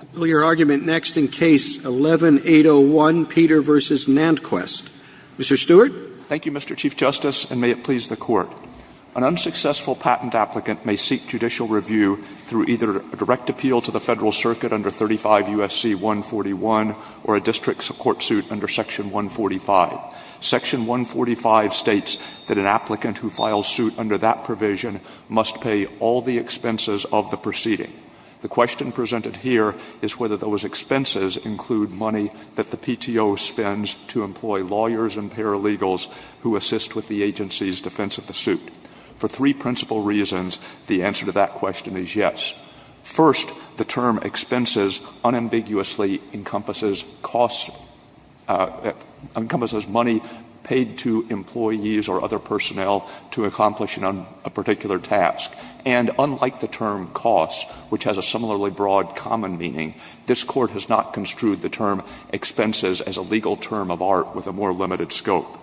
I'll bill your argument next in Case 11-801, Peter v. NantKwest. Mr. Stewart. Thank you, Mr. Chief Justice, and may it please the Court. An unsuccessful patent applicant may seek judicial review through either a direct appeal to the Federal Circuit under 35 U.S.C. 141 or a district court suit under Section 145. Section 145 states that an applicant who files suit under that provision must pay all the expenses of the proceeding. The question presented here is whether those expenses include money that the PTO spends to employ lawyers and paralegals who assist with the agency's defense of the suit. For three principal reasons, the answer to that question is yes. First, the term expenses unambiguously encompasses costs that encompasses money paid to employees or other personnel to accomplish a particular task. And unlike the term costs, which has a similarly broad common meaning, this Court has not construed the term expenses as a legal term of art with a more limited scope.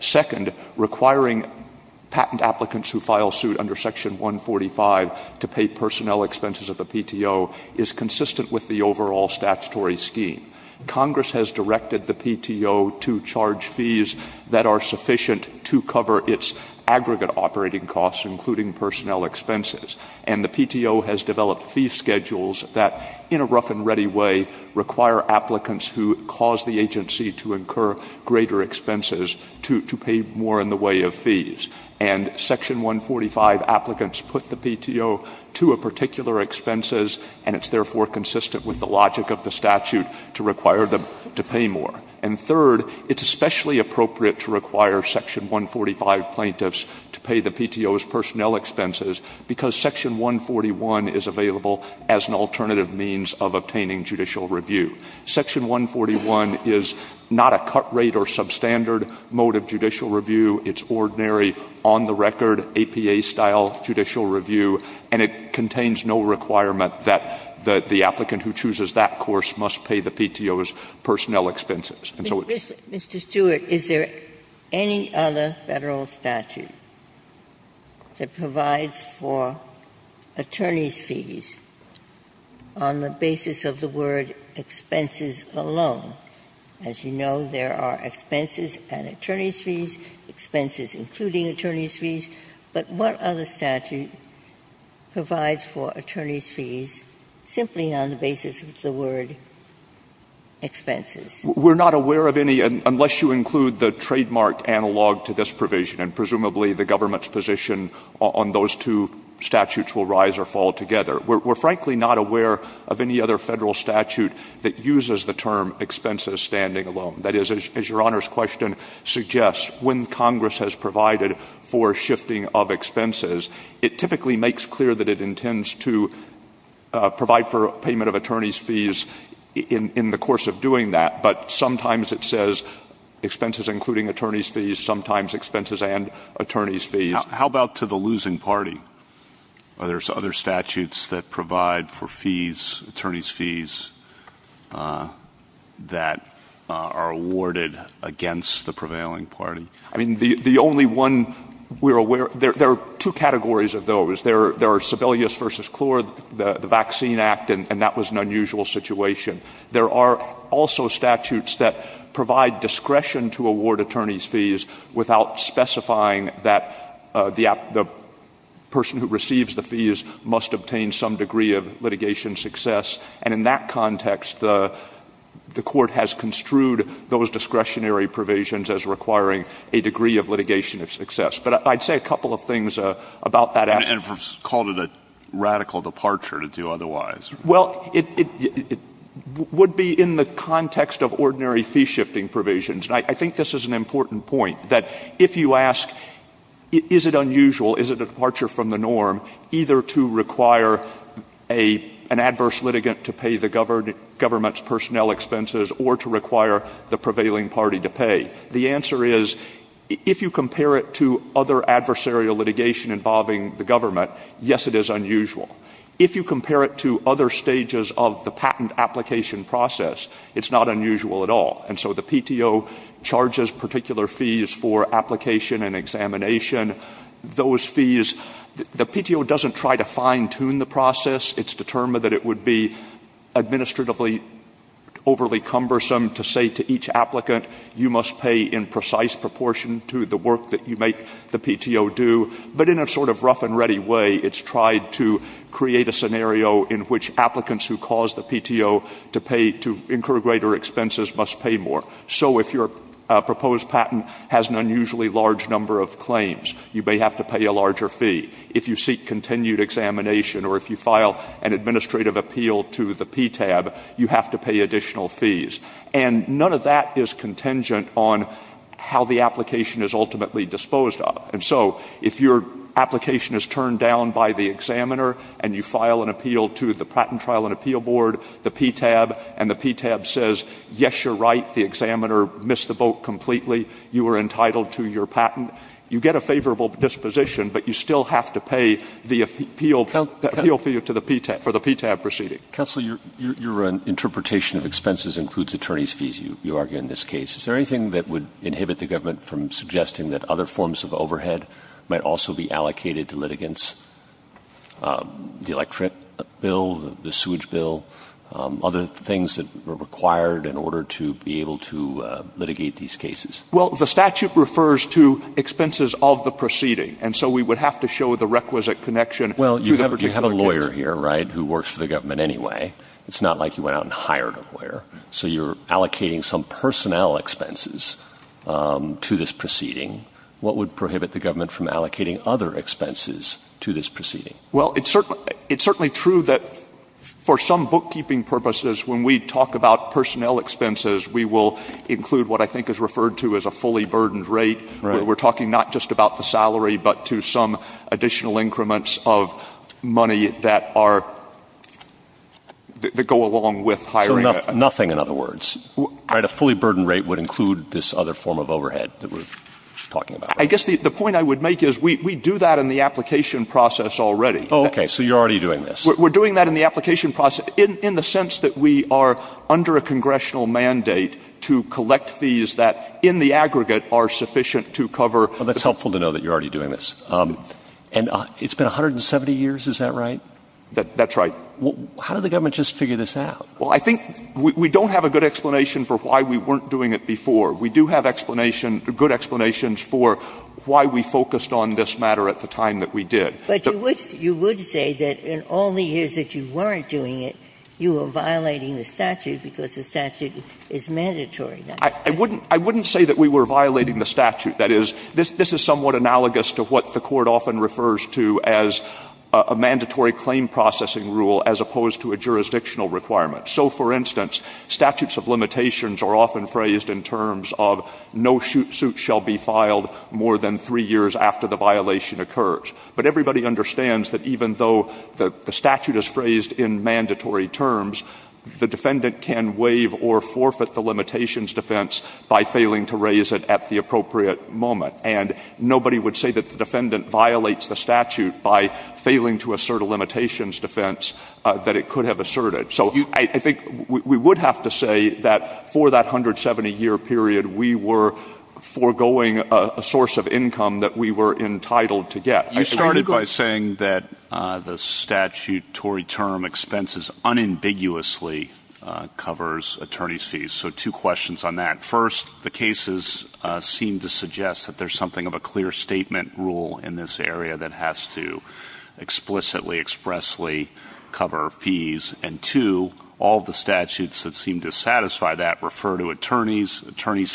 Second, requiring patent applicants who file suit under Section 145 to pay personnel expenses of the PTO is consistent with the overall statutory scheme. Congress has directed the PTO to charge fees that are sufficient to cover its aggregate operating costs, including personnel expenses. And the PTO has developed fee schedules that, in a rough and ready way, require applicants who cause the agency to incur greater expenses to pay more in the way of fees. And Section 145 applicants put the PTO to a particular expenses, and it's therefore consistent with the logic of the statute to require them to pay more. And third, it's especially appropriate to require Section 145 plaintiffs to pay the PTO's personnel expenses, because Section 141 is available as an alternative means of obtaining judicial review. Section 141 is not a cut rate or substandard mode of judicial review. It's ordinary, on-the-record, APA-style judicial review, and it contains no requirement that the applicant who chooses that course must pay the PTO's personnel expenses. And so it's just as simple as that. Ginsburg. Mr. Stewart, is there any other Federal statute that provides for attorney's fees on the basis of the word expenses alone? As you know, there are expenses and attorney's fees, expenses including attorney's fees. But what other statute provides for attorney's fees simply on the basis of the word expenses? Stewart. We're not aware of any, unless you include the trademark analog to this provision, and presumably the government's position on those two statutes will rise or fall together. We're frankly not aware of any other Federal statute that uses the term expenses standing alone. That is, as Your Honor's question suggests, when Congress has provided for shifting of expenses, it typically makes clear that it intends to provide for payment of attorney's fees in the course of doing that. But sometimes it says expenses including attorney's fees, sometimes expenses and attorney's fees. How about to the losing party? Are there other statutes that provide for fees, attorney's fees, that are awarded against the prevailing party? I mean, the only one we're aware of, there are two categories of those. There are Sebelius v. Klor, the Vaccine Act, and that was an unusual situation. There are also statutes that provide discretion to award attorney's fees without specifying that the person who receives the fees must obtain some degree of litigation success. And in that context, the Court has construed those discretionary provisions as requiring a degree of litigation of success. But I'd say a couple of things about that aspect. And called it a radical departure to do otherwise. Well, it would be in the context of ordinary fee-shifting provisions. And I think this is an important point, that if you ask, is it unusual, is it a departure from the norm either to require an adverse litigant to pay the government's personnel expenses or to require the prevailing party to pay? The answer is, if you compare it to other adversarial litigation involving the government, yes, it is unusual. If you compare it to other stages of the patent application process, it's not unusual at all. And so the PTO charges particular fees for application and examination. Those fees, the PTO doesn't try to fine-tune the process. It's determined that it would be administratively overly cumbersome to say to each applicant, you must pay in precise proportion to the work that you make the PTO do. But in a sort of rough-and-ready way, it's tried to create a scenario in which applicants who cause the PTO to pay to incur greater expenses must pay more. So if your proposed patent has an unusually large number of claims, you may have to pay a larger fee. If you seek continued examination or if you file an administrative appeal to the PTAB, you have to pay additional fees. And none of that is contingent on how the application is ultimately disposed of. And so if your application is turned down by the examiner and you file an appeal to the Patent Trial and Appeal Board, the PTAB, and the examiner miss the boat completely, you are entitled to your patent. You get a favorable disposition, but you still have to pay the appeal fee to the PTAB for the PTAB proceeding. Counsel, your interpretation of expenses includes attorney's fees, you argue, in this case. Is there anything that would inhibit the government from suggesting that other forms of overhead might also be allocated to litigants? The electorate bill, the sewage bill, other things that are required in order to be able to litigate these cases. Well, the statute refers to expenses of the proceeding. And so we would have to show the requisite connection to the particular case. Well, you have a lawyer here, right, who works for the government anyway. It's not like you went out and hired a lawyer. So you're allocating some personnel expenses to this proceeding. What would prohibit the government from allocating other expenses to this proceeding? Well, it's certainly true that for some bookkeeping purposes, when we talk about personnel expenses, we will include what I think is referred to as a fully burdened rate. We're talking not just about the salary, but to some additional increments of money that are, that go along with hiring. So nothing, in other words, right, a fully burdened rate would include this other form of overhead that we're talking about. I guess the point I would make is we do that in the application process already. Oh, okay. So you're already doing this. We're doing that in the application process in the sense that we are under a congressional mandate to collect fees that, in the aggregate, are sufficient to cover — Well, that's helpful to know that you're already doing this. And it's been 170 years. Is that right? That's right. How did the government just figure this out? Well, I think we don't have a good explanation for why we weren't doing it before. We do have explanation, good explanations for why we focused on this matter at the time that we did. But you would say that in all the years that you weren't doing it, you were violating the statute because the statute is mandatory. I wouldn't say that we were violating the statute. That is, this is somewhat analogous to what the Court often refers to as a mandatory claim processing rule as opposed to a jurisdictional requirement. So, for instance, statutes of limitations are often phrased in terms of no suit shall be filed more than three years after the violation occurs. But everybody understands that even though the statute is phrased in mandatory terms, the defendant can waive or forfeit the limitations defense by failing to raise it at the appropriate moment. And nobody would say that the defendant violates the statute by failing to assert a limitations defense that it could have asserted. So I think we would have to say that for that 170-year period, we were foregoing a source of income that we were entitled to get. You started by saying that the statutory term expenses unambiguously covers attorney's fees. So two questions on that. First, the cases seem to suggest that there's something of a clear statement rule in this area that has to explicitly, expressly cover fees. And two, all of the statutes that seem to satisfy that refer to attorney's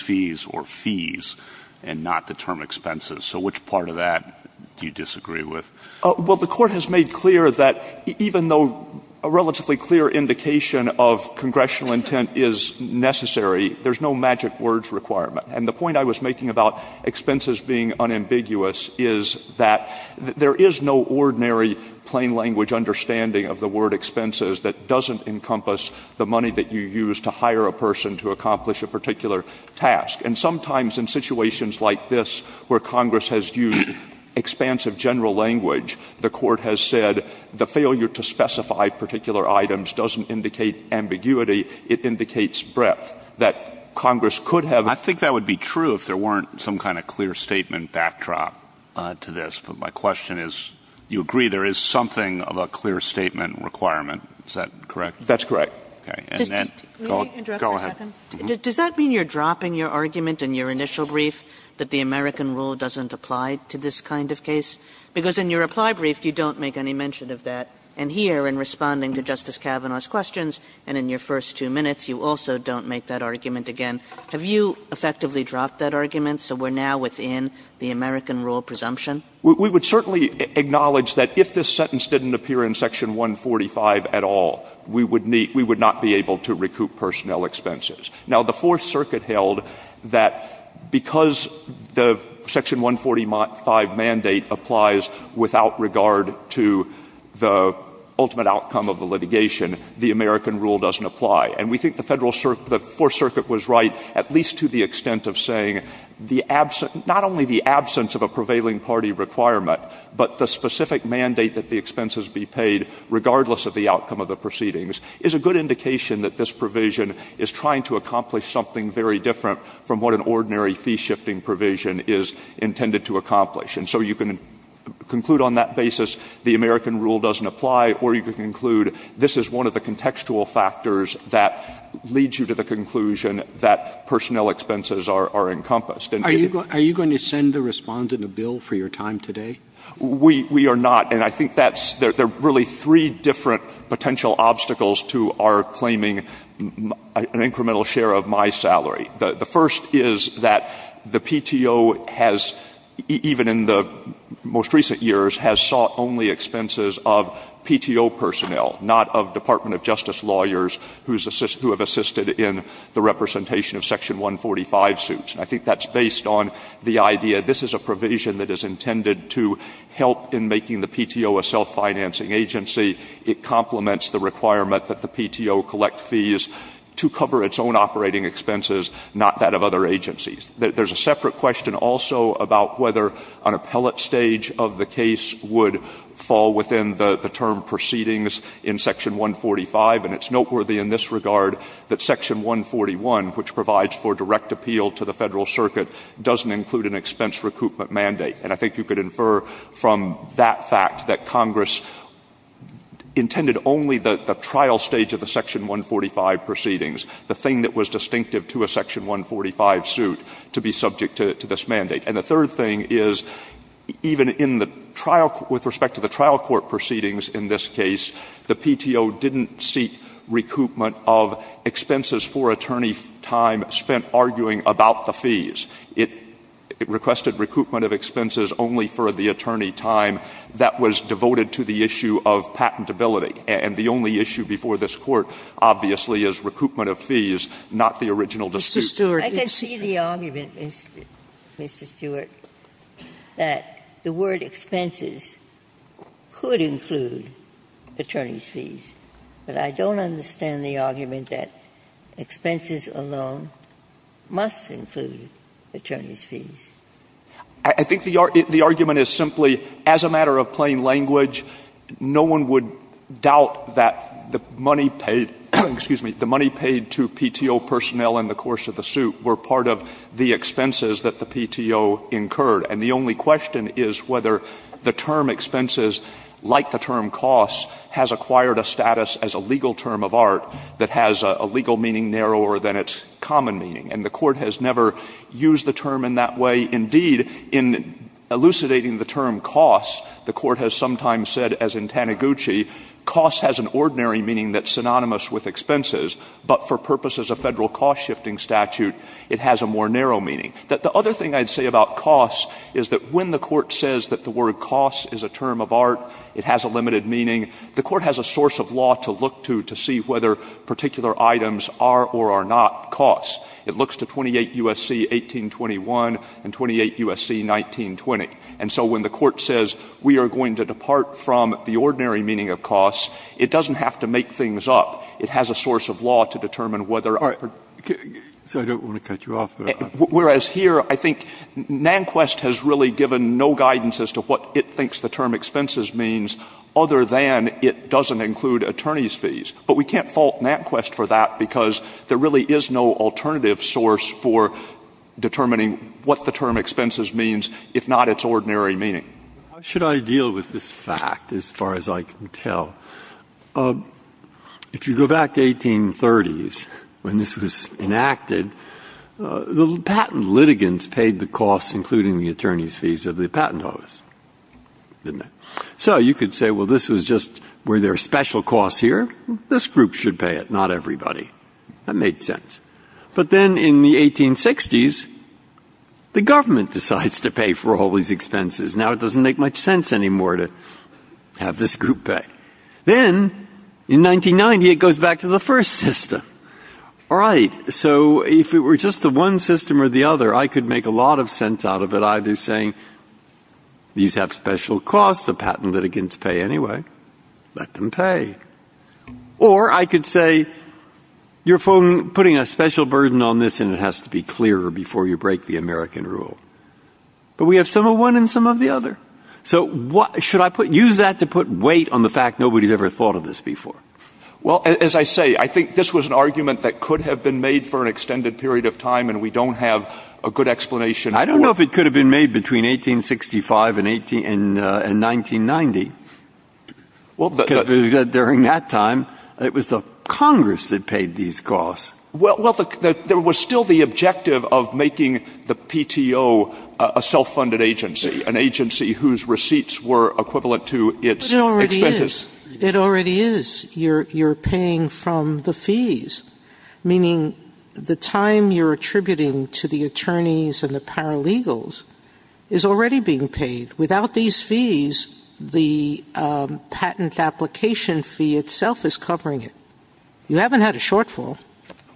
fees or fees and not the term expenses. So which part of that do you disagree with? Well, the Court has made clear that even though a relatively clear indication of congressional intent is necessary, there's no magic words requirement. And the point I was making about expenses being unambiguous is that there is no ordinary plain language understanding of the word expenses that doesn't encompass the money that you use to hire a person to accomplish a particular task. And sometimes in situations like this where Congress has used expansive general language, the Court has said the failure to specify particular items doesn't indicate ambiguity, it indicates breadth, that Congress could have ‑‑ I think that would be true if there weren't some kind of clear statement backdrop to this. But my question is, you agree there is something of a clear statement requirement. Is that correct? That's correct. Okay. And then ‑‑ May I interrupt for a second? Go ahead. Does that mean you're dropping your argument in your initial brief that the American rule doesn't apply to this kind of case? Because in your reply brief, you don't make any mention of that. And here, in responding to Justice Kavanaugh's questions and in your first two minutes, you also don't make that argument again. Have you effectively dropped that argument so we're now within the American rule presumption? We would certainly acknowledge that if this sentence didn't appear in Section 145 at all, we would not be able to recoup personnel expenses. Now, the Fourth Circuit held that because the Section 145 mandate applies without regard to the ultimate outcome of the litigation, the American rule doesn't apply. And we think the Fourth Circuit was right at least to the requirement. But the specific mandate that the expenses be paid regardless of the outcome of the proceedings is a good indication that this provision is trying to accomplish something very different from what an ordinary fee shifting provision is intended to accomplish. And so you can conclude on that basis the American rule doesn't apply, or you can conclude this is one of the contextual factors that leads you to the conclusion that personnel expenses are encompassed. Are you going to send the Respondent a bill for your time today? We are not. And I think that's — there are really three different potential obstacles to our claiming an incremental share of my salary. The first is that the PTO has, even in the most recent years, has sought only expenses of PTO personnel, not of Department of Justice lawyers who have assisted in the representation of Section 145 suits. And I think that's based on the idea this is a provision that is intended to help in making the PTO a self-financing agency. It complements the requirement that the PTO collect fees to cover its own operating expenses, not that of other agencies. There's a separate question also about whether an appellate stage of the case would fall within the term proceedings in Section 145. And it's noteworthy in this regard that Section 141, which provides for direct appeal to the Federal Circuit, doesn't include an expense recoupment mandate. And I think you could infer from that fact that Congress intended only the trial stage of the Section 145 proceedings, the thing that was distinctive to a Section 145 suit, to be subject to this mandate. And the third thing is, even in the trial — with respect to the trial court proceedings in this case, the PTO didn't seek recoupment of expenses for attorney time spent arguing about the fees. It requested recoupment of expenses only for the attorney time that was devoted to the issue of patentability. And the only issue before this Court, obviously, is recoupment of fees, not the original dispute. Ginsburg. I can see the argument, Mr. Stewart, that the word expenses could include attorney's fees. But I don't understand the argument that expenses alone must include attorney's fees. I think the argument is simply, as a matter of plain language, no one would doubt that the money paid — excuse me — the money paid to PTO personnel in the course of the suit were part of the expenses that the PTO incurred. And the only question is whether the term expenses, like the term costs, has acquired a status as a legal term of art that has a legal meaning narrower than its common meaning. And the Court has never used the term in that way. Indeed, in elucidating the term costs, the Court has sometimes said, as in Taniguchi, costs has an ordinary meaning that's synonymous with expenses, but for purposes of Federal cost-shifting statute, it has a more narrow meaning. The other thing I'd say about costs is that when the Court says that the word costs is a term of art, it has a limited meaning, the Court has a source of law to look to to see whether particular items are or are not costs. It looks to 28 U.S.C. 1821 and 28 U.S.C. 1920. And so when the Court says we are going to depart from the ordinary meaning of costs, it doesn't have to make things up. It has a source of law to determine whether a particular — Breyer. All right. So I don't want to cut you off there. Stewart. Whereas here, I think Nanquist has really given no guidance as to what it thinks the term expenses means other than it doesn't include attorneys' fees. But we can't fault Nanquist for that because there really is no alternative source for determining what the term expenses means, if not its ordinary meaning. Breyer. How should I deal with this fact, as far as I can tell? If you go back to 1830s when this was enacted, the patent litigants paid the costs, including the attorneys' fees, of the patent office, didn't they? So you could say, well, this was just where there are special costs here. This group should pay it, not everybody. That made sense. But then in the 1860s, the government decides to pay for all these expenses. Now it doesn't make much sense anymore to have this group pay. Then in 1990, it goes back to the first system. All right. So if it were just the one system or the other, I could make a lot of sense out of it, either saying these have special costs, the patent putting a special burden on this, and it has to be clear before you break the American rule. But we have some of one and some of the other. So should I use that to put weight on the fact nobody's ever thought of this before? Well, as I say, I think this was an argument that could have been made for an extended period of time, and we don't have a good explanation for it. I don't know if it could have been made between 1865 and 1990. During that time, it was the cost. Well, there was still the objective of making the PTO a self-funded agency, an agency whose receipts were equivalent to its expenses. It already is. It already is. You're paying from the fees, meaning the time you're attributing to the attorneys and the paralegals is already being paid. Without these fees, the patent application fee itself is covering it. You haven't had a shortfall.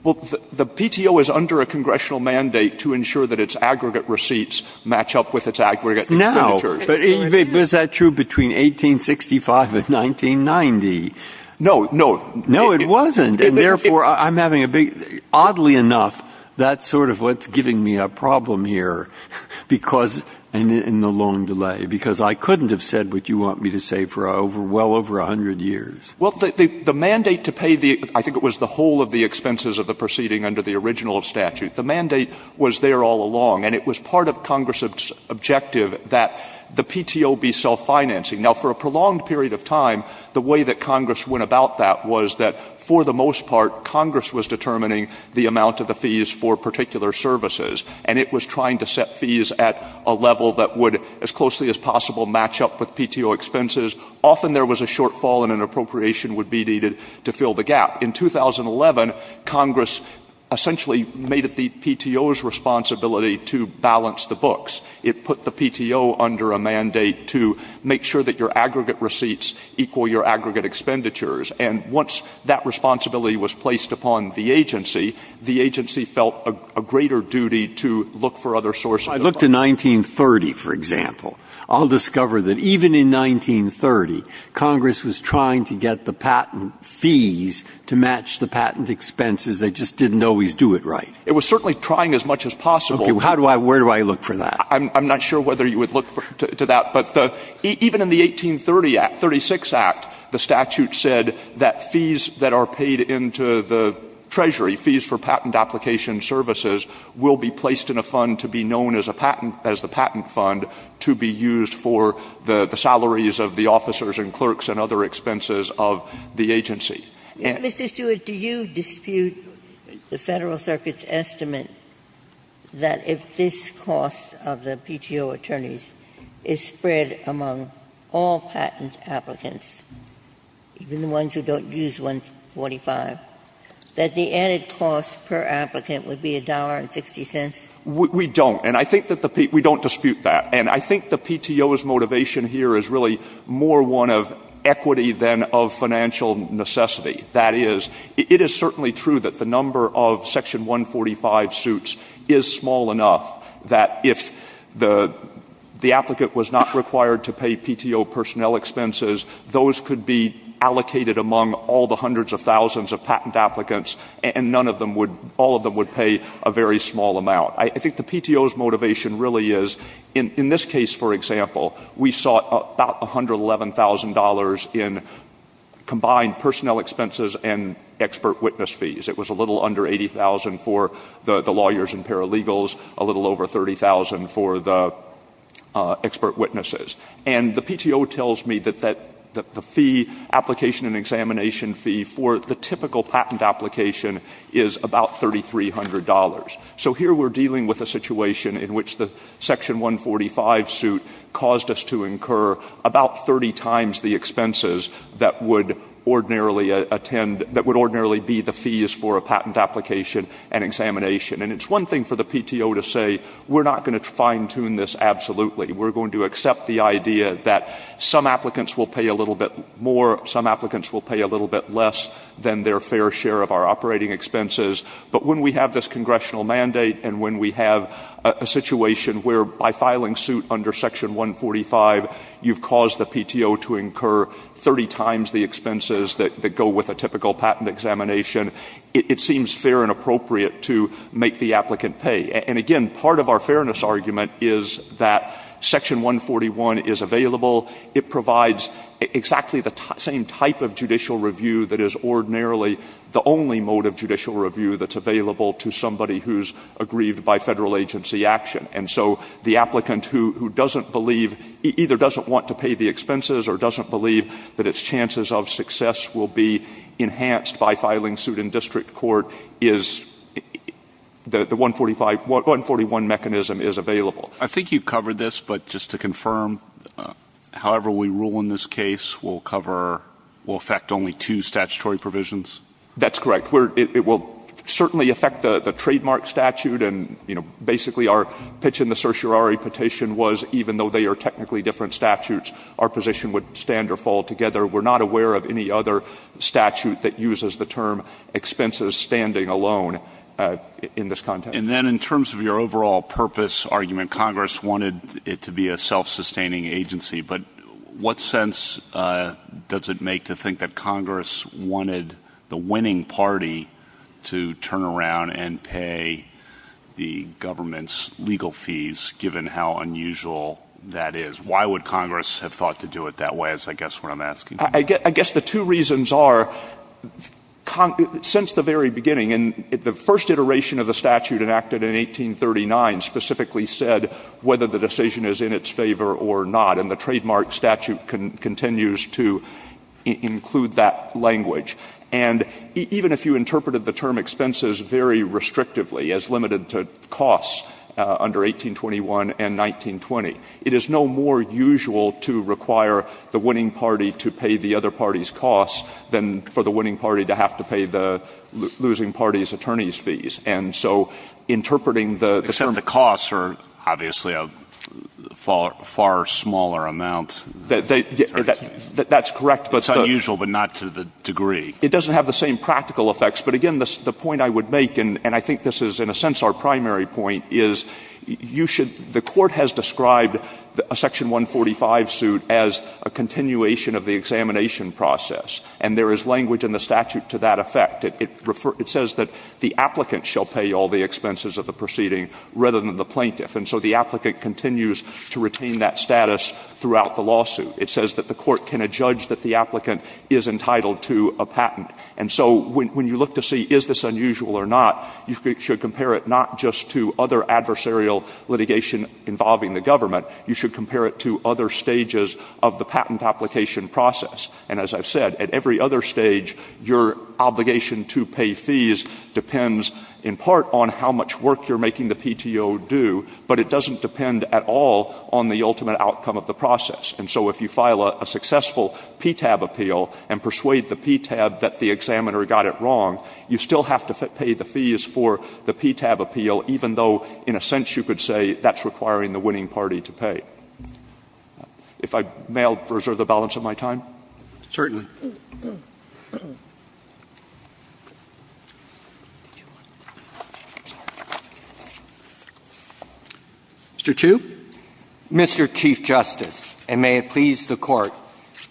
Well, the PTO is under a congressional mandate to ensure that its aggregate receipts match up with its aggregate expenditures. No. But is that true between 1865 and 1990? No, no. No, it wasn't. And therefore, I'm having a big — oddly enough, that's sort of what's giving me a problem here because — in the long delay, because I couldn't have said what you want me to say for well over a hundred years. Well, the mandate to pay the — I think it was the whole of the expenses of the proceeding under the original statute. The mandate was there all along, and it was part of Congress's objective that the PTO be self-financing. Now, for a prolonged period of time, the way that Congress went about that was that, for the most part, Congress was determining the amount of the fees for particular services, and it was trying to set fees at a level that would, as closely as possible, match up with PTO expenses. Often there was a shortfall and an appropriation would be needed to fill the gap. In 2011, Congress essentially made it the PTO's responsibility to balance the books. It put the PTO under a mandate to make sure that your aggregate receipts equal your aggregate expenditures. And once that responsibility was placed upon the agency, the agency felt a greater duty to look for other sources of — I looked in 1930, for example. I'll discover that even in 1930, Congress was trying to get the patent fees to match the patent expenses. They just didn't always do it right. It was certainly trying as much as possible. Okay. How do I — where do I look for that? I'm not sure whether you would look to that. But even in the 1830 Act — 36 Act, the statute said that fees that are paid into the Treasury, fees for patent application services, will be placed in a fund to be known as a patent — as the patent fund to be used for the salaries of the officers and clerks and other expenses of the agency. And — Mr. Stewart, do you dispute the Federal Circuit's estimate that if this cost of the PTO attorneys is spread among all patent applicants, even the ones who don't use 145, that the added cost per applicant would be $1.60? We don't. And I think that the — we don't dispute that. And I think the PTO's motivation here is really more one of equity than of financial necessity. That is, it is certainly true that the number of Section 145 suits is small enough that if the applicant was not required to pay PTO personnel expenses, those could be allocated among all the hundreds of thousands of patent applicants, and none of them would — all of them would pay a very small amount. I think the PTO's motivation really is — in this case, for example, we saw about $111,000 in combined personnel expenses and expert witness fees. It was a little under $80,000 for the lawyers and paralegals, a little over $30,000 for the expert witnesses. And the PTO tells me that the fee, application and examination fee, for the typical patent application is about $3,300. So here we're dealing with a situation in which the Section 145 suit caused us to incur about 30 times the expenses that would ordinarily attend — that would ordinarily be the fees for a patent application and examination. And it's one thing for the PTO to say, we're not going to fine-tune this absolutely. We're going to accept the idea that some applicants will pay a little bit more, some applicants will pay a little bit less than their fair share of our operating expenses. But when we have this congressional mandate and when we have a situation where by filing suit under Section 145, you've caused the PTO to incur 30 times the expenses that go with a typical patent examination, it seems fair and appropriate to make the applicant pay. And again, part of our fairness argument is that Section 141 is available. It provides exactly the same type of judicial review that is ordinarily the only mode of judicial review that's available to somebody who's aggrieved by federal agency action. And so the applicant who — who doesn't believe — either doesn't want to pay the expenses or doesn't believe that its chances of success will be enhanced by filing suit in district court is — the 145 — 141 mechanism is available. I think you've covered this, but just to confirm, however we rule in this case will cover — will affect only two statutory provisions? That's correct. It will certainly affect the trademark statute and, you know, basically our pitch in the certiorari petition was even though they are technically different statutes, our position would stand or fall together. We're not aware of any other statute that uses the term expenses standing alone in this context. And then in terms of your overall purpose argument, Congress wanted it to be a self-sustaining agency, but what sense does it make to think that Congress wanted the winning party to turn around and pay the government's legal fees, given how unusual that is? Why would Congress have thought to do it that way is, I guess, what I'm asking. I guess the two reasons are, since the very beginning and the first iteration of the statute enacted in 1839 specifically said whether the decision is in its favor or not, and the trademark statute continues to include that language. And even if you interpreted the term expenses very restrictively as limited to costs under 1821 and 1920, it is no more usual to require the winning party to pay the other party's costs than for the winning party to have to pay the losing party's attorney's fees. And so interpreting the — Except the costs are obviously a far smaller amount. That's correct, but — It's unusual, but not to the degree — It doesn't have the same practical effects. But again, the point I would make, and I think this is in a sense our primary point, is you should — the Court has described a Section 145 suit as a continuation of the examination process, and there is language in the statute to that effect. It says that the applicant shall pay all the expenses of the proceeding rather than the plaintiff. And so the applicant continues to retain that status throughout the lawsuit. It says that the Court can adjudge that the applicant is entitled to a patent. And so when you look to see is this unusual or not, you should compare it not just to other adversarial litigation involving the government. You should compare it to other stages of the patent application process. And as I've said, at every other stage, your obligation to pay fees depends in part on how much work you're making the PTO do, but it doesn't depend at all on the ultimate outcome of the process. And so if you file a successful PTAB appeal and persuade the PTAB that the examiner got it wrong, you still have to pay the fees for the PTAB appeal, even though, in a sense, you could say that's requiring the winning party to pay. If I may, I'll reserve the balance of my time. Certainly. Mr. Chu? Mr. Chief Justice, and may it please the Court,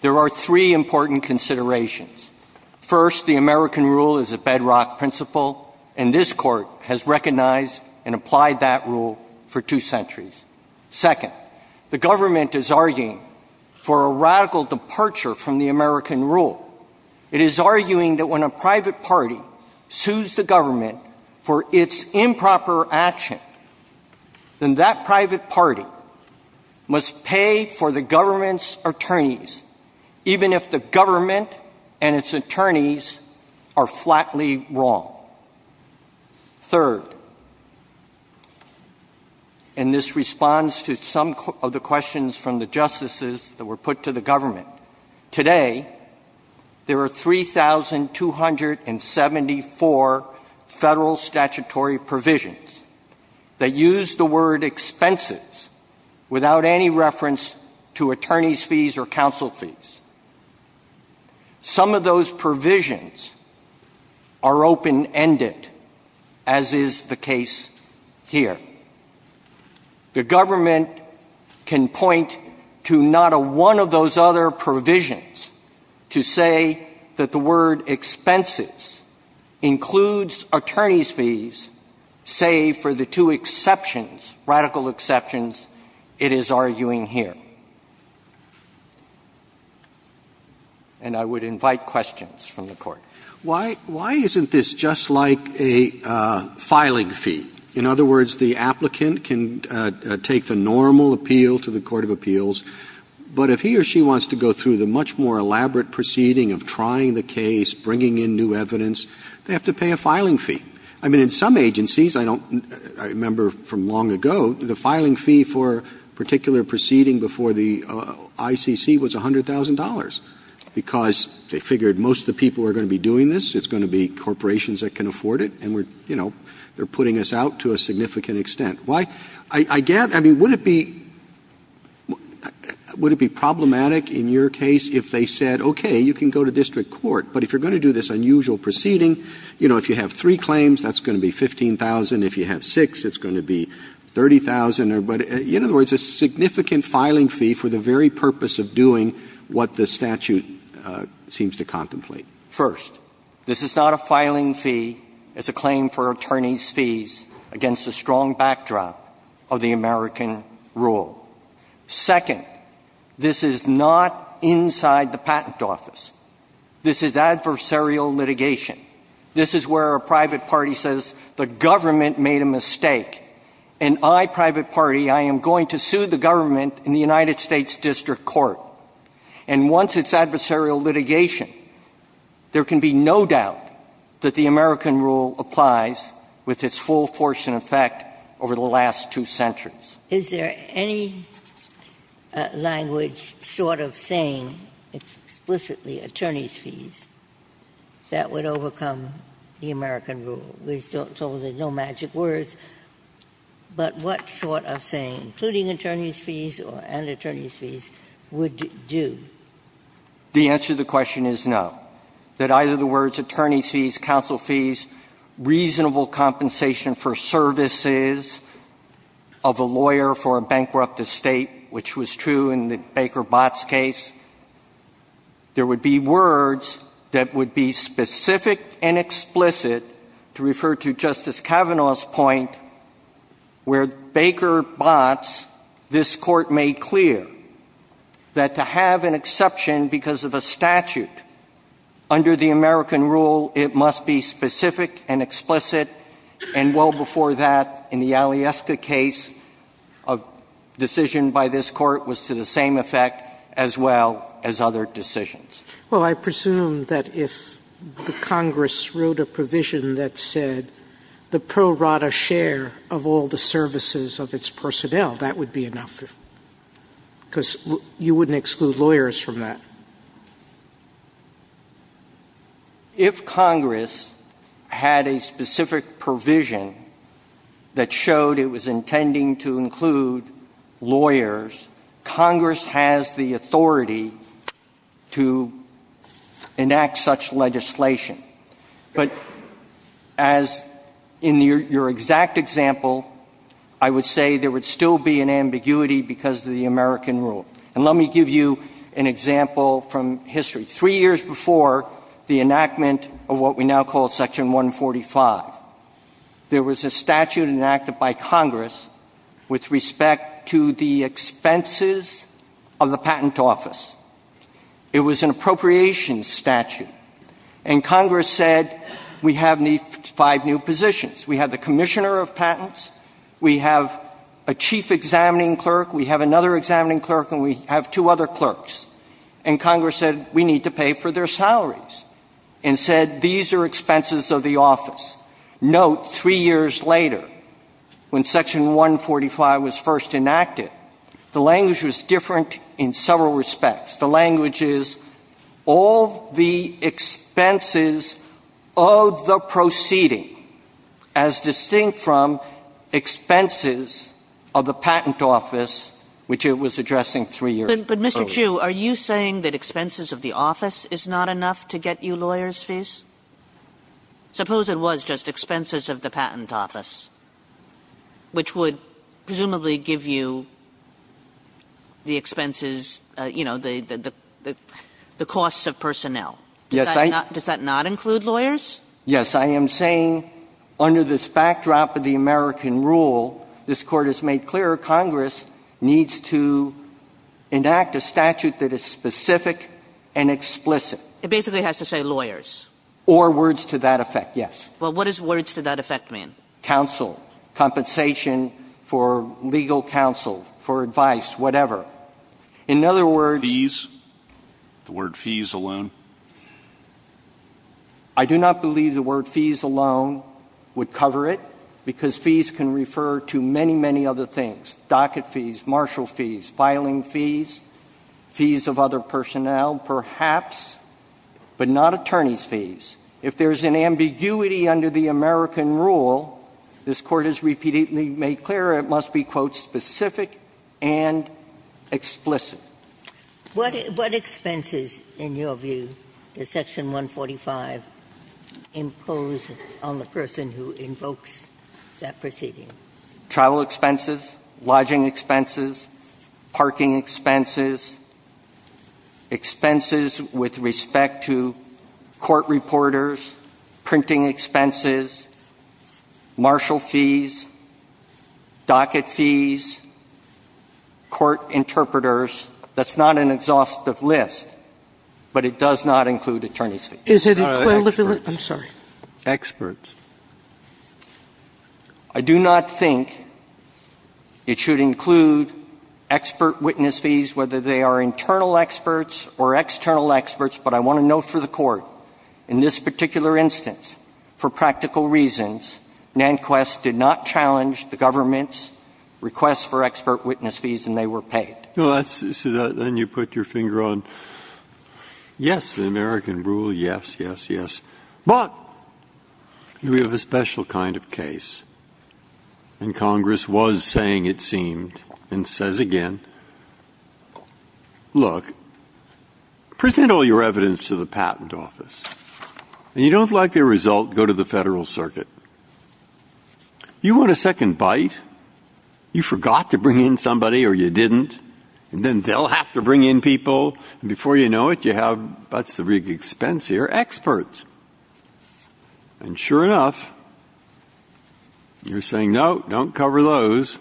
there are three important considerations. First, the American rule is a bedrock principle, and this Court has recognized and applied that rule for two centuries. Second, the government is arguing for a radical departure from the American rule. It is arguing that when a private party sues the government for its improper action, then that private party must pay for the government's attorneys, even if the government and its attorneys are flatly wrong. Third, and this responds to some of the questions from the justices that were put to the government, today there are 3,274 Federal statutory provisions that use the word expenses without any reference to attorneys' fees or counsel fees. Some of those provisions are open and end it, as is the case here. The government can point to not a one of those other provisions to say that the word expenses includes attorneys' fees, save for the two exceptions, radical exceptions, it is arguing here. And I would invite questions from the Court. Why isn't this just like a filing fee? In other words, the applicant can take the normal appeal to the Court of Appeals, but if he or she wants to go through the much more elaborate proceeding of trying the case, bringing in new evidence, they have to pay a filing fee. I mean, in some agencies, I don't remember from long ago, the filing fee for a particular proceeding before the ICC was $100,000, because they figured most of the people were going to be doing this, it's going to be corporations that can afford it, and we're, you know, they're putting us out to a significant extent. Why? I guess, I mean, would it be problematic in your case if they said, okay, you can go to district court, but if you're going to do this unusual proceeding, you know, if you have three claims, that's going to be $15,000. If you have six, it's going to be $30,000. But in other words, it's a significant filing fee for the very purpose of doing what the statute seems to contemplate. First, this is not a filing fee. It's a claim for attorney's fees against a strong backdrop of the American rule. Second, this is not inside the patent office. This is adversarial litigation. This is where a private party says the government made a mistake, and I, private party, I am going to sue the government in the United States District Court. And once it's adversarial litigation, there can be no doubt that the American rule applies with its full force and effect over the last two centuries. Ginsburg. Is there any language short of saying explicitly attorney's fees that would overcome the American rule? We've told there's no magic words, but what short of saying including attorney's fees or an attorney's fees would do? The answer to the question is no, that either the words attorney's fees, counsel fees, reasonable compensation for services of a lawyer for a bankrupt estate, which was true in the Baker-Botz case, there would be words that would be specific and explicit to refer to Justice Kavanaugh's point where Baker-Botz, the American rule, was the American rule. And thus, this Court made clear that to have an exception because of a statute under the American rule, it must be specific and explicit. And well before that, in the Alyeska case, a decision by this Court was to the same effect, as well as other decisions. Well, I presume that if the Congress wrote a provision that said the pro rata share of all the services of its personnel, that would be enough, because you wouldn't exclude lawyers from that. If Congress had a specific provision that showed it was intending to include lawyers, Congress has the authority to enact such legislation. But as in your exact example, I would say there would still be an ambiguity because of the American rule. And let me give you an example from history. Three years before the enactment of what we now call Section 145, there was a statute enacted by Congress with respect to the expenses of the patent office. It was an appropriations statute. And Congress said, we have five new positions. We have the commissioner of patents. We have a chief examining clerk. We have another examining clerk. And we have two other clerks. And Congress said, we need to pay for their salaries, and said, these are expenses of the office. Note, three years later, when Section 145 was first enacted, the language was different in several respects. The language is, all the expenses of the proceeding, as distinct from expenses of the patent office, which it was addressing three years earlier. But, Mr. Chu, are you saying that expenses of the office is not enough to get you lawyers' fees? Suppose it was just expenses of the patent office, which would presumably give you the expenses, you know, the costs of personnel. Does that not include lawyers? Yes. I am saying, under this backdrop of the American rule, this Court has made clear Congress needs to enact a statute that is specific and explicit. It basically has to say lawyers? Or words to that effect, yes. Well, what does words to that effect mean? Counsel. Compensation for legal counsel, for advice, whatever. In other words… Fees? The word fees alone? I do not believe the word fees alone would cover it, because fees can refer to many, many other things. Docket fees, marshal fees, filing fees, fees of other personnel perhaps, but not attorney's fees. If there is an ambiguity under the American rule, this Court has repeatedly made clear it must be, quote, specific and explicit. What expenses, in your view, does Section 145 impose on the person who invokes that proceeding? Travel expenses? Lodging expenses? Parking expenses? Expenses with respect to court reporters? Printing expenses? Marshal fees? Docket fees? Court interpreters? That's not an exhaustive list, but it does not include attorney's fees. I'm sorry. Experts. I do not think it should include expert witness fees, whether they are internal experts or external experts, but I want to note for the Court, in this particular instance, for practical reasons, Nanquist did not challenge the government's request for expert witness fees, and they were paid. So then you put your finger on, yes, the American rule, yes, yes, yes, but we have a special kind of case, and Congress was saying it seemed, and says again, look, present all your evidence to the Patent Office, and if you don't like the result, go to the Federal Circuit. You want a second bite? You forget what happened to the American rule? You forgot to bring in somebody, or you didn't, and then they'll have to bring in people, and before you know it, you have, that's the big expense here, experts. And sure enough, you're saying, no, don't cover those.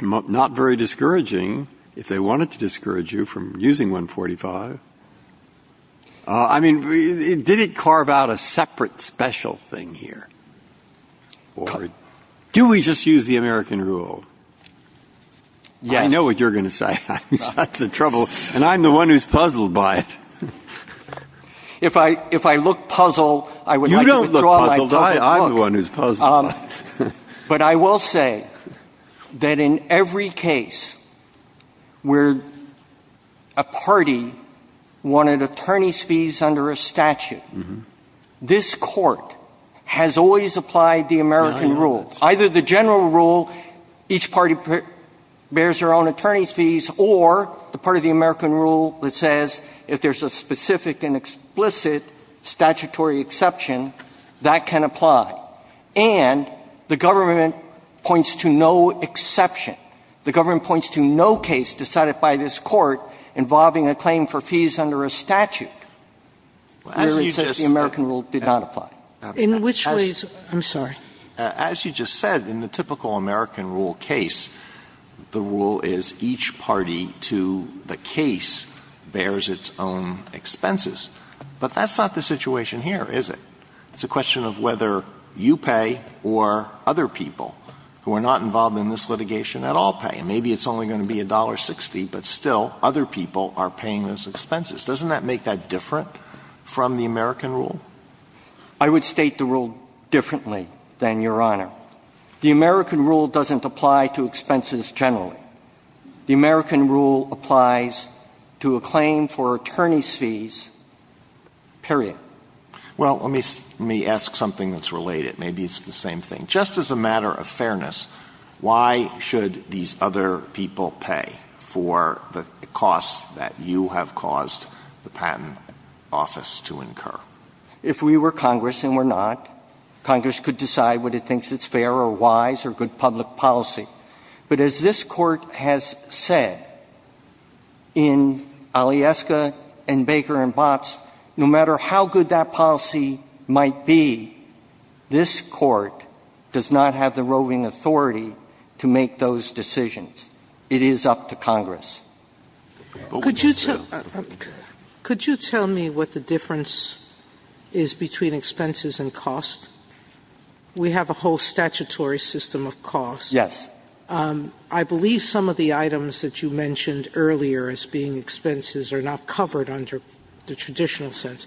Not very discouraging, if they wanted to discourage you from using 145. I mean, did it carve out a separate special thing here? Do we just use the American rule? Yes. I know what you're going to say. That's a trouble, and I'm the one who's puzzled by it. If I look puzzled, I would like to withdraw my puzzled look. You don't look puzzled. I'm the one who's puzzled. But I will say that in every case where a party wanted attorney's fees under a statute, this Court has always applied the American rule. Either the general rule, each party bears their own attorney's fees, or the part of the American rule that says if there's a specific and explicit statutory exception, that can apply. And the government points to no exception. The government points to no case decided by this Court involving a claim for fees under a statute. Where it says the American rule did not apply. In which ways? I'm sorry. As you just said, in the typical American rule case, the rule is each party to the case bears its own expenses. But that's not the situation here, is it? It's a question of whether you pay or other people who are not involved in this litigation at all pay. And maybe it's only going to be $1.60, but still other people are paying those expenses. Doesn't that make that different from the American rule? I would state the rule differently than Your Honor. The American rule doesn't apply to expenses generally. The American rule applies to a claim for attorney's fees, period. Well, let me ask something that's related. Maybe it's the same thing. Just as a matter of fairness, why should these other people pay for the costs that you have caused the Patent Office to incur? If we were Congress, and we're not, Congress could decide whether it thinks it's fair or wise or good public policy. But as this Court has said, in Alyeska and Baker and so on, it is up to Congress to decide whether it thinks it's fair or not. Could you tell me what the difference is between expenses and costs? We have a whole statutory system of costs. Yes. I believe some of the items that you mentioned earlier as being expenses are not covered under the traditional sense.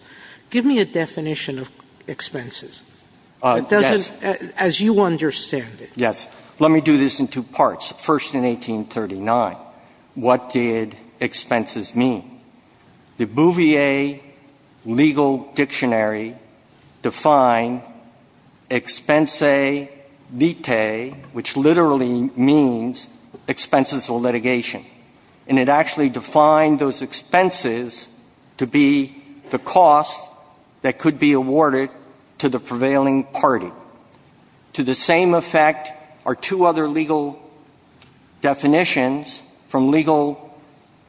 Give me a definition of expenses. Yes. As you understand it. Yes. Let me do this in two parts. First, in 1839, what did expenses mean? The Bouvier Legal Dictionary defined expense vitae, which literally means expenses of litigation. And it actually defined those expenses to be the costs that could be awarded to the prevailing party. To the same effect are two other legal definitions from legal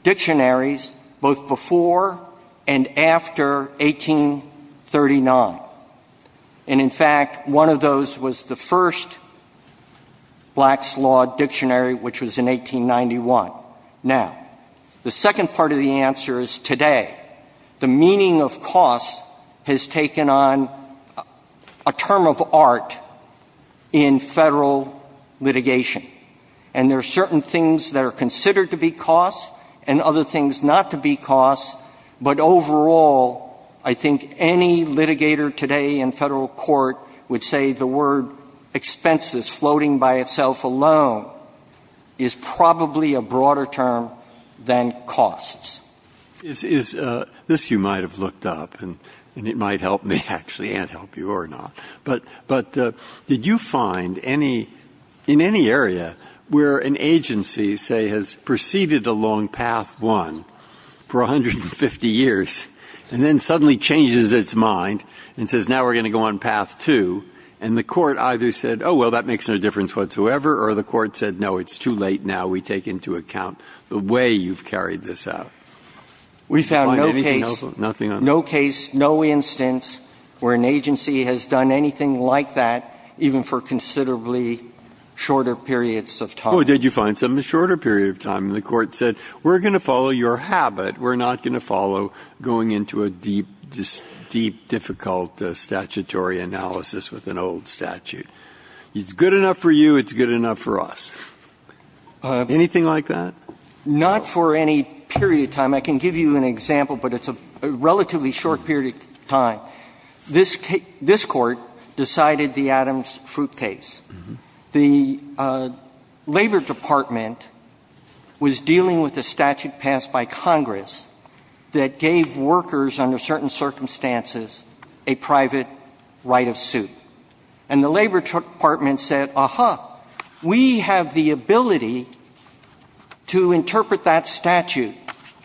dictionaries, both before and after 1839. And in fact, one of those was the first Black's Law Dictionary, which was in 1891. Now, the second part of the answer is today. The meaning of costs has taken on a term of art in Federal litigation. And there are certain things that are considered to be costs and other things not to be costs, but overall, I think any litigator today in Federal court would say the word expenses floating by itself alone is probably a broader term than costs. Breyer. Is this you might have looked up, and it might help me actually and help you or not. But did you find any, in any area, where an agency, say, has proceeded along Path 1 for 150 years and then suddenly changes its mind and says now we're going to go on Path 2, and the court either said, oh, well, that makes no difference whatsoever, or the court said, no, it's too late now, we take into account the way you've carried this out? We found no case, no case, no instance where an agency has done anything like that even for considerably shorter periods of time. Oh, did you find some in a shorter period of time? And the court said, we're going to follow your habit. We're not going to follow going into a deep, deep, difficult statutory analysis with an old statute. It's good enough for you. It's good enough for us. Anything like that? Not for any period of time. I can give you an example, but it's a relatively short period of time. This Court decided the Adams-Fruit case. The Labor Department was dealing with a statute passed by Congress that gave workers under certain circumstances a private right of suit. And the Labor Department said, aha, we have the ability to interpret that statute,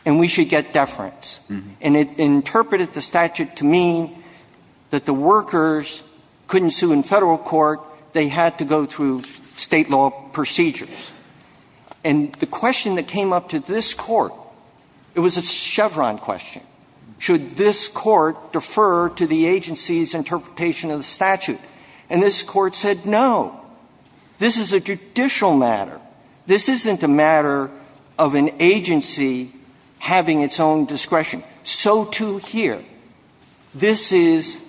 and we should get deference. And it interpreted the statute to mean that the workers couldn't sue in Federal court, they had to go through State law procedures. And the question that came up to this Court, it was a Chevron question. Should this Court defer to the agency's interpretation of the statute? And this Court said, no. This is a judicial matter. This isn't a matter of an agency having its own discretion. So, too, here. This is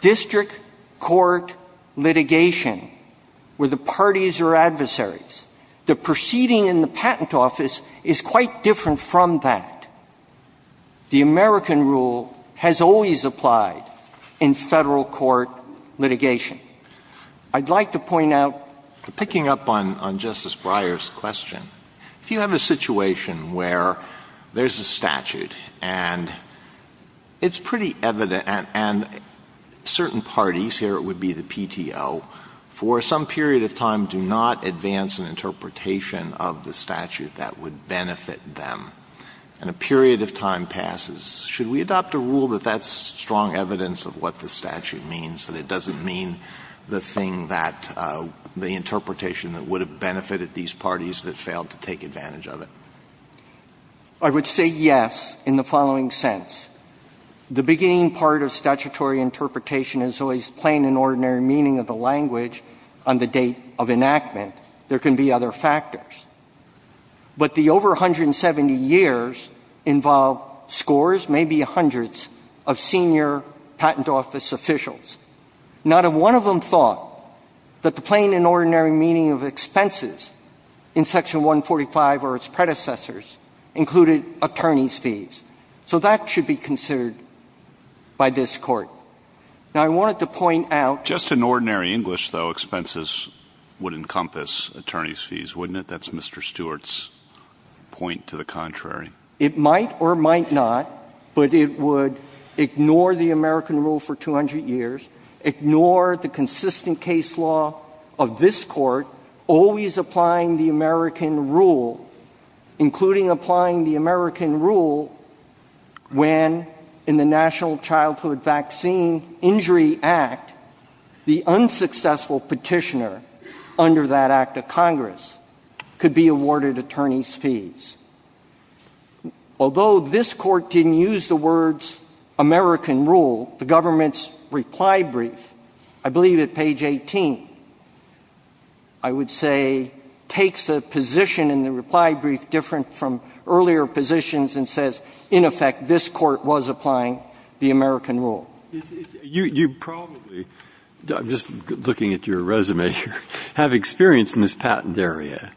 district court litigation where the parties are adversaries. The proceeding in the patent office is quite different from that. The American rule has always applied in Federal court litigation. I'd like to point out to pick up on Justice Breyer's question. If you have a situation where there's a statute, and it's pretty evident, and certain parties, here it would be the PTO, for some period of time do not advance an interpretation of the statute that would benefit them, and a period of time passes, should we adopt a rule that that's strong evidence of what the statute means, that it doesn't mean the thing that the interpretation that would have benefited these parties that failed to take advantage of it? I would say yes in the following sense. The beginning part of statutory interpretation is always plain and ordinary meaning of the language on the date of enactment. There can be other factors. But the over 170 years involve scores, maybe hundreds of senior patent office officials. Not one of them thought that the plain and ordinary meaning of expenses in Section 145 or its predecessors included attorney's fees. So that should be considered by this Court. Now, I wanted to point out. Just in ordinary English, though, expenses would encompass attorney's fees, wouldn't it? That's Mr. Stewart's point to the contrary. It might or might not, but it would ignore the American rule for 200 years, ignore the consistent case law of this Court, always applying the American rule, including applying the American rule when, in the National Childhood Vaccine Injury Act, the unsuccessful petitioner under that Act of Congress could be awarded attorney's fees. Although this Court didn't use the words American rule, the government's reply brief, I believe at page 18, I would say, takes a position in the reply brief different from earlier positions and says, in effect, this Court was applying the American rule. Breyer. You probably, I'm just looking at your resume here, have experience in this patent area.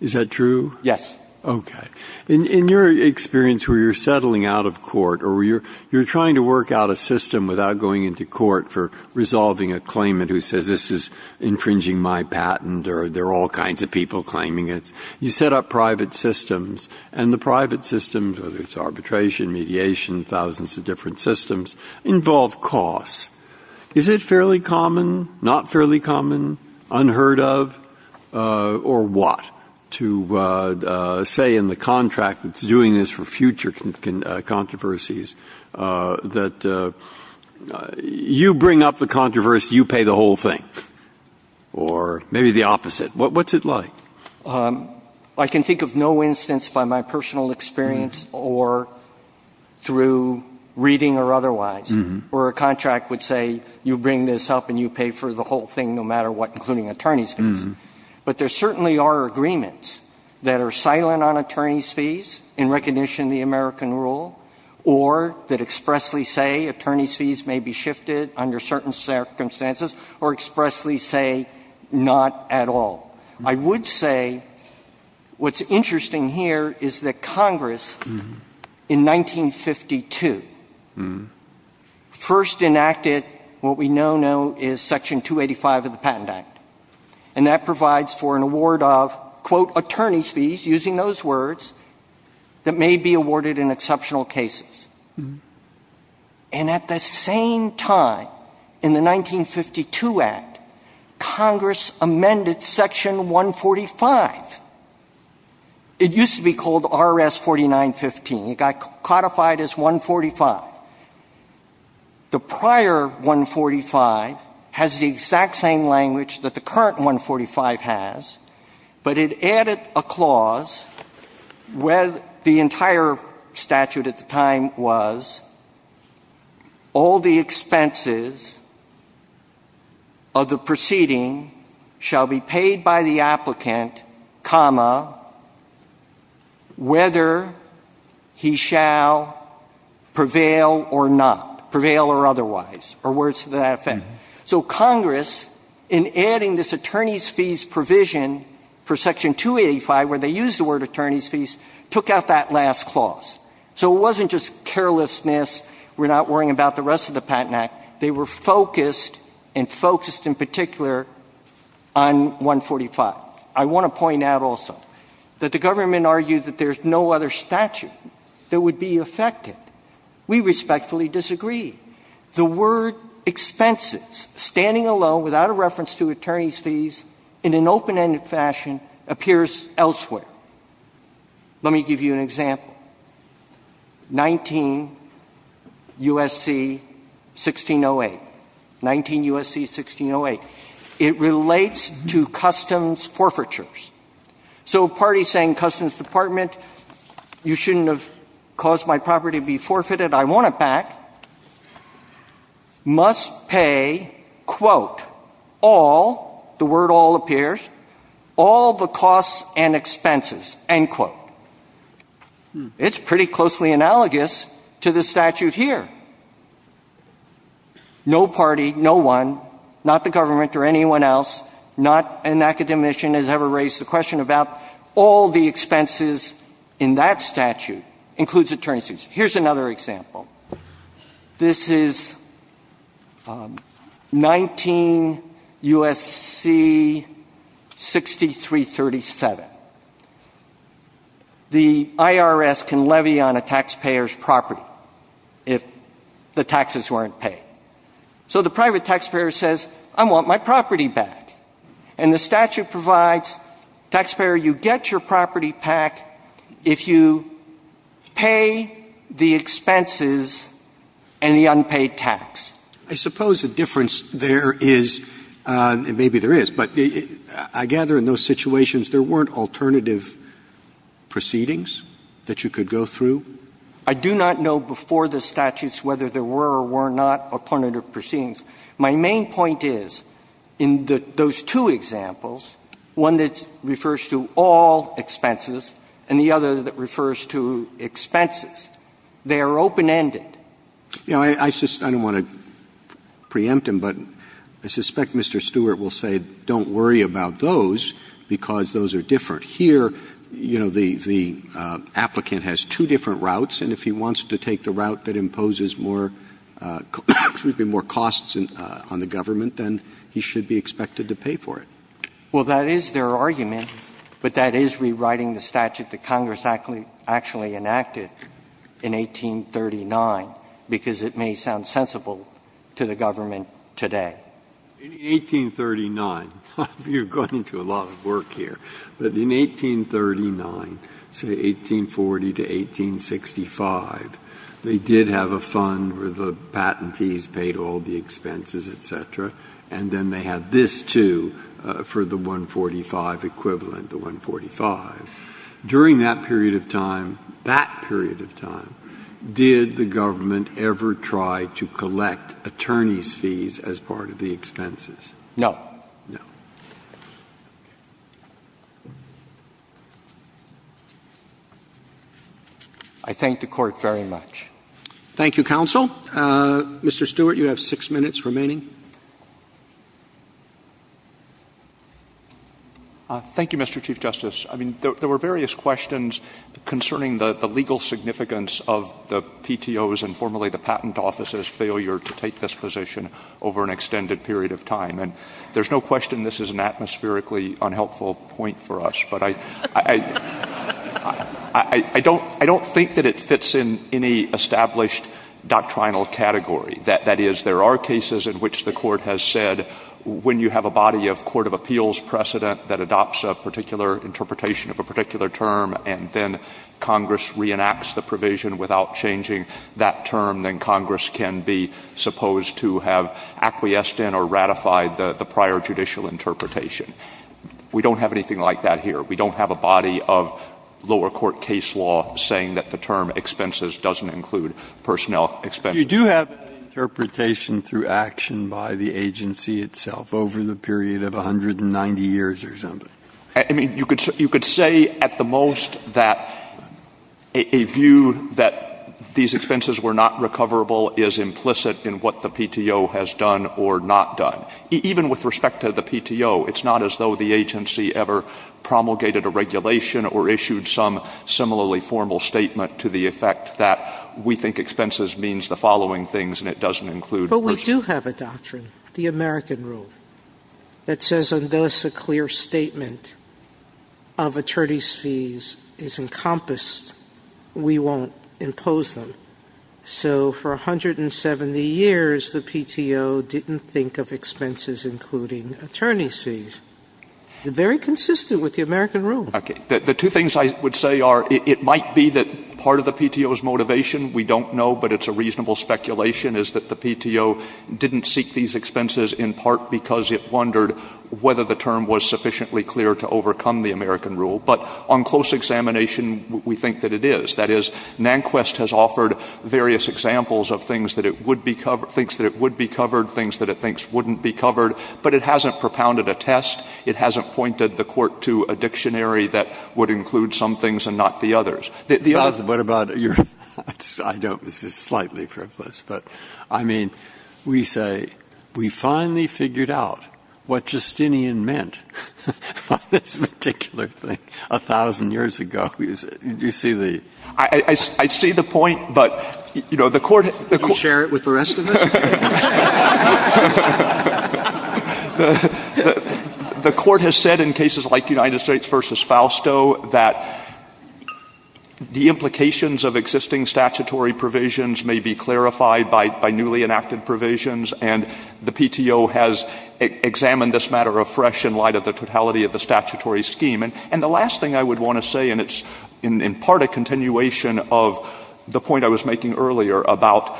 Is that true? Stewart. Yes. Breyer. Okay. In your experience where you're settling out of court or you're trying to work out a system without going into court for resolving a claimant who says this is infringing my patent or there are all kinds of people claiming it, you set up private systems, and the private systems, whether it's arbitration, mediation, thousands of different systems, involve costs. Is it fairly common, not fairly common, unheard of, or what, to say in the contract that's doing this for the whole thing or maybe the opposite? What's it like? Stewart. I can think of no instance by my personal experience or through reading or otherwise where a contract would say you bring this up and you pay for the whole thing no matter what, including attorney's fees. But there certainly are agreements that are silent on attorney's fees in recognition of the American rule or that expressly say attorney's fees may be shifted under certain circumstances or expressly say not at all. I would say what's interesting here is that Congress in 1952 first enacted what we now know is Section 285 of the Patent Act, and that provides for an award of, quote, attorney's fees, using those words, that may be awarded in exceptional cases. And at the same time, in the 1952 Act, Congress amended Section 145. It used to be called R.S. 4915. It got codified as 145. The prior 145 has the exact same language that the current 145 has, but it added a clause where the entire statute at the time was all the expenses of the proceeding shall be paid by the applicant, comma, whether he shall prevail or not, prevail or otherwise, or words to that effect. So Congress, in adding this attorney's fees provision for Section 285 where they used the word attorney's fees, took out that last clause. So it wasn't just carelessness, we're not worrying about the rest of the Patent Act. They were focused and focused in particular on 145. I want to point out also that the government argued that there's no other statute that would be affected. We respectfully disagree. The word expenses, standing alone, without a reference to attorney's fees, in an open-ended fashion, appears elsewhere. Let me give you an example. 19 U.S.C. 1608. 19 U.S.C. 1608. It relates to customs forfeitures. So a party saying customs department, you shouldn't have caused my property to be forfeited, I want it back, must pay, quote, all, the word all appears, all the costs and expenses, end quote. It's pretty closely analogous to the statute here. No party, no one, not the government or anyone else, not an academician has ever raised the question about all the expenses in that statute includes attorney's fees. Let me give you another example. This is 19 U.S.C. 6337. The IRS can levy on a taxpayer's property if the taxes weren't paid. So the private taxpayer says, I want my property back. And the statute provides taxpayer, you get your property back if you pay the expenses and the unpaid tax. I suppose the difference there is, and maybe there is, but I gather in those situations there weren't alternative proceedings that you could go through? I do not know before the statutes whether there were or were not alternative proceedings. My main point is, in those two examples, one that refers to all expenses and the other that refers to expenses, they are open-ended. You know, I don't want to preempt him, but I suspect Mr. Stewart will say don't worry about those because those are different. Here, you know, the applicant has two different routes, and if he wants to take the route that imposes more costs on the government, then he should be expected to pay for it. Well, that is their argument, but that is rewriting the statute that Congress actually enacted in 1839 because it may sound sensible to the government today. In 1839, you're going to a lot of work here, but in 1839, say 1840 to 1865, they did have a fund where the patentees paid all the expenses, et cetera, and then they had this, too, for the 145 equivalent, the 145. During that period of time, that period of time, did the government ever try to collect attorneys' fees as part of the expenses? No. No. I thank the Court very much. Thank you, counsel. Mr. Stewart, you have six minutes remaining. Thank you, Mr. Chief Justice. I mean, there were various questions concerning the legal significance of the PTO's and formerly the Patent Office's failure to take this position over an extended period of time, and there's no question this is an atmospherically unhelpful point for us, but I don't think that it fits in any established doctrinal category. That is, there are cases in which the Court has said when you have a body of court of appeals precedent that adopts a particular interpretation of a particular term and then Congress reenacts the provision without changing that term, then Congress can be supposed to have acquiesced in or ratified the prior judicial interpretation. We don't have anything like that here. We don't have a body of lower court case law saying that the term expenses doesn't include personnel expenses. But you do have an interpretation through action by the agency itself over the period of 190 years or something. I mean, you could say at the most that a view that these expenses were not recoverable is implicit in what the PTO has done or not done. Even with respect to the PTO, it's not as though the agency ever promulgated a regulation or issued some similarly formal statement to the effect that we think expenses means the following things and it doesn't include personnel. Sotomayor But we do have a doctrine, the American Rule, that says unless a clear statement of attorney's fees is encompassed, we won't impose them. So for 170 years, the PTO didn't think of expenses including attorney's fees. Very consistent with the American Rule. Stewart The two things I would say are it might be that part of the PTO's motivation we don't know, but it's a reasonable speculation, is that the PTO didn't seek these expenses in part because it wondered whether the term was sufficiently clear to overcome the American Rule. But on close examination, we think that it is. That is, Nanquist has offered various examples of things that it would be covered things that it thinks wouldn't be covered, but it hasn't propounded a test. It hasn't pointed the court to a dictionary that would include some things and not the others. Breyer What about your thoughts? I don't. This is slightly frivolous. But, I mean, we say we finally figured out what Justinian meant by this particular thing a thousand years ago. You see the... Stewart I see the point, but, you know, the court... Roberts Could you share it with the rest of us? The court has said in cases like United States v. Fausto that the implications of existing statutory provisions may be clarified by newly enacted provisions, and the PTO has examined this matter afresh in light of the totality of the statutory scheme. And the last thing I would want to say, and it's in part a continuation of the point I was making earlier about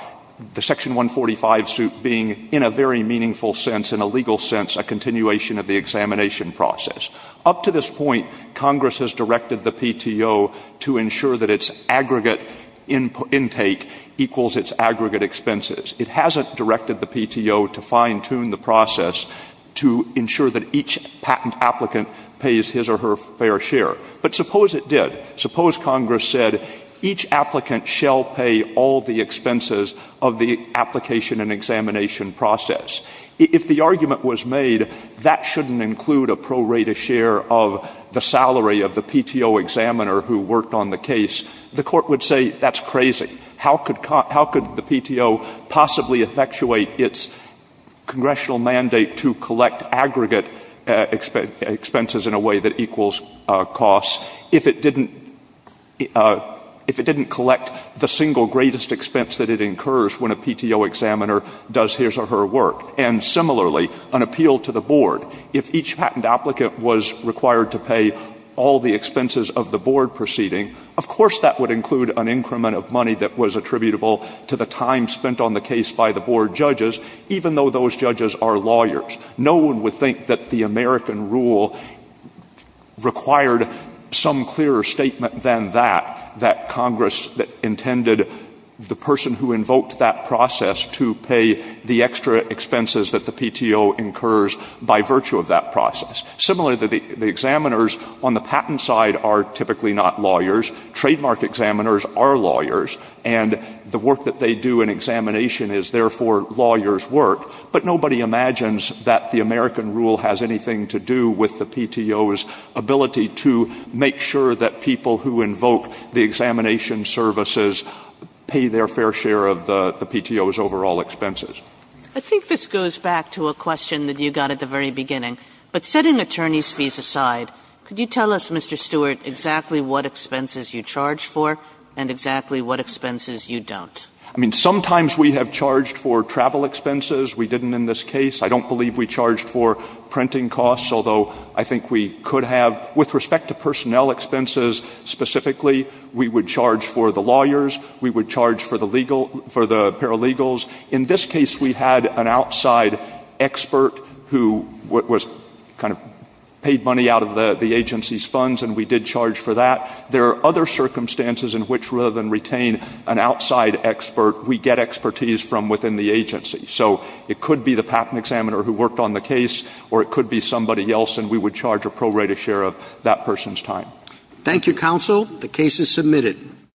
the Section 145 suit being in a very meaningful sense, in a legal sense, a continuation of the examination process. Up to this point, Congress has directed the PTO to ensure that its aggregate intake equals its aggregate expenses. It hasn't directed the PTO to fine-tune the process to ensure that each patent applicant pays his or her fair share. But suppose it did. Suppose Congress said each applicant shall pay all the expenses of the application and examination process. If the argument was made that shouldn't include a pro rata share of the salary of the PTO examiner who worked on the case, the court would say that's crazy. How could the PTO possibly effectuate its congressional mandate to collect aggregate expenses in a way that equals costs if it didn't collect the single greatest expense that it incurs when a PTO examiner does his or her work? And similarly, an appeal to the board. If each patent applicant was required to pay all the expenses of the board proceeding, of course that would include an increment of money that was attributable to the time spent on the case by the board judges, even though those judges are lawyers. No one would think that the American rule required some clearer statement than that, that Congress intended the person who invoked that process to pay the extra expenses that the PTO incurs by virtue of that process. Similarly, the examiners on the patent side are typically not lawyers. Trademark examiners are lawyers. And the work that they do in examination is therefore lawyers' work. But nobody imagines that the American rule has anything to do with the PTO's ability to make sure that people who invoke the examination services pay their fair share of the PTO's overall expenses. I think this goes back to a question that you got at the very beginning. But setting attorney's fees aside, could you tell us, Mr. Stewart, exactly what expenses you charge for and exactly what expenses you don't? I mean, sometimes we have charged for travel expenses. We didn't in this case. I don't believe we charged for printing costs, although I think we could have. With respect to personnel expenses specifically, we would charge for the lawyers. We would charge for the paralegals. In this case, we had an outside expert who was kind of paid money out of the agency's funds, and we did charge for that. There are other circumstances in which, rather than retain an outside expert, we get expertise from within the agency. So it could be the patent examiner who worked on the case, or it could be somebody else, and we would charge a pro rata share of that person's time. Thank you, counsel. The case is submitted.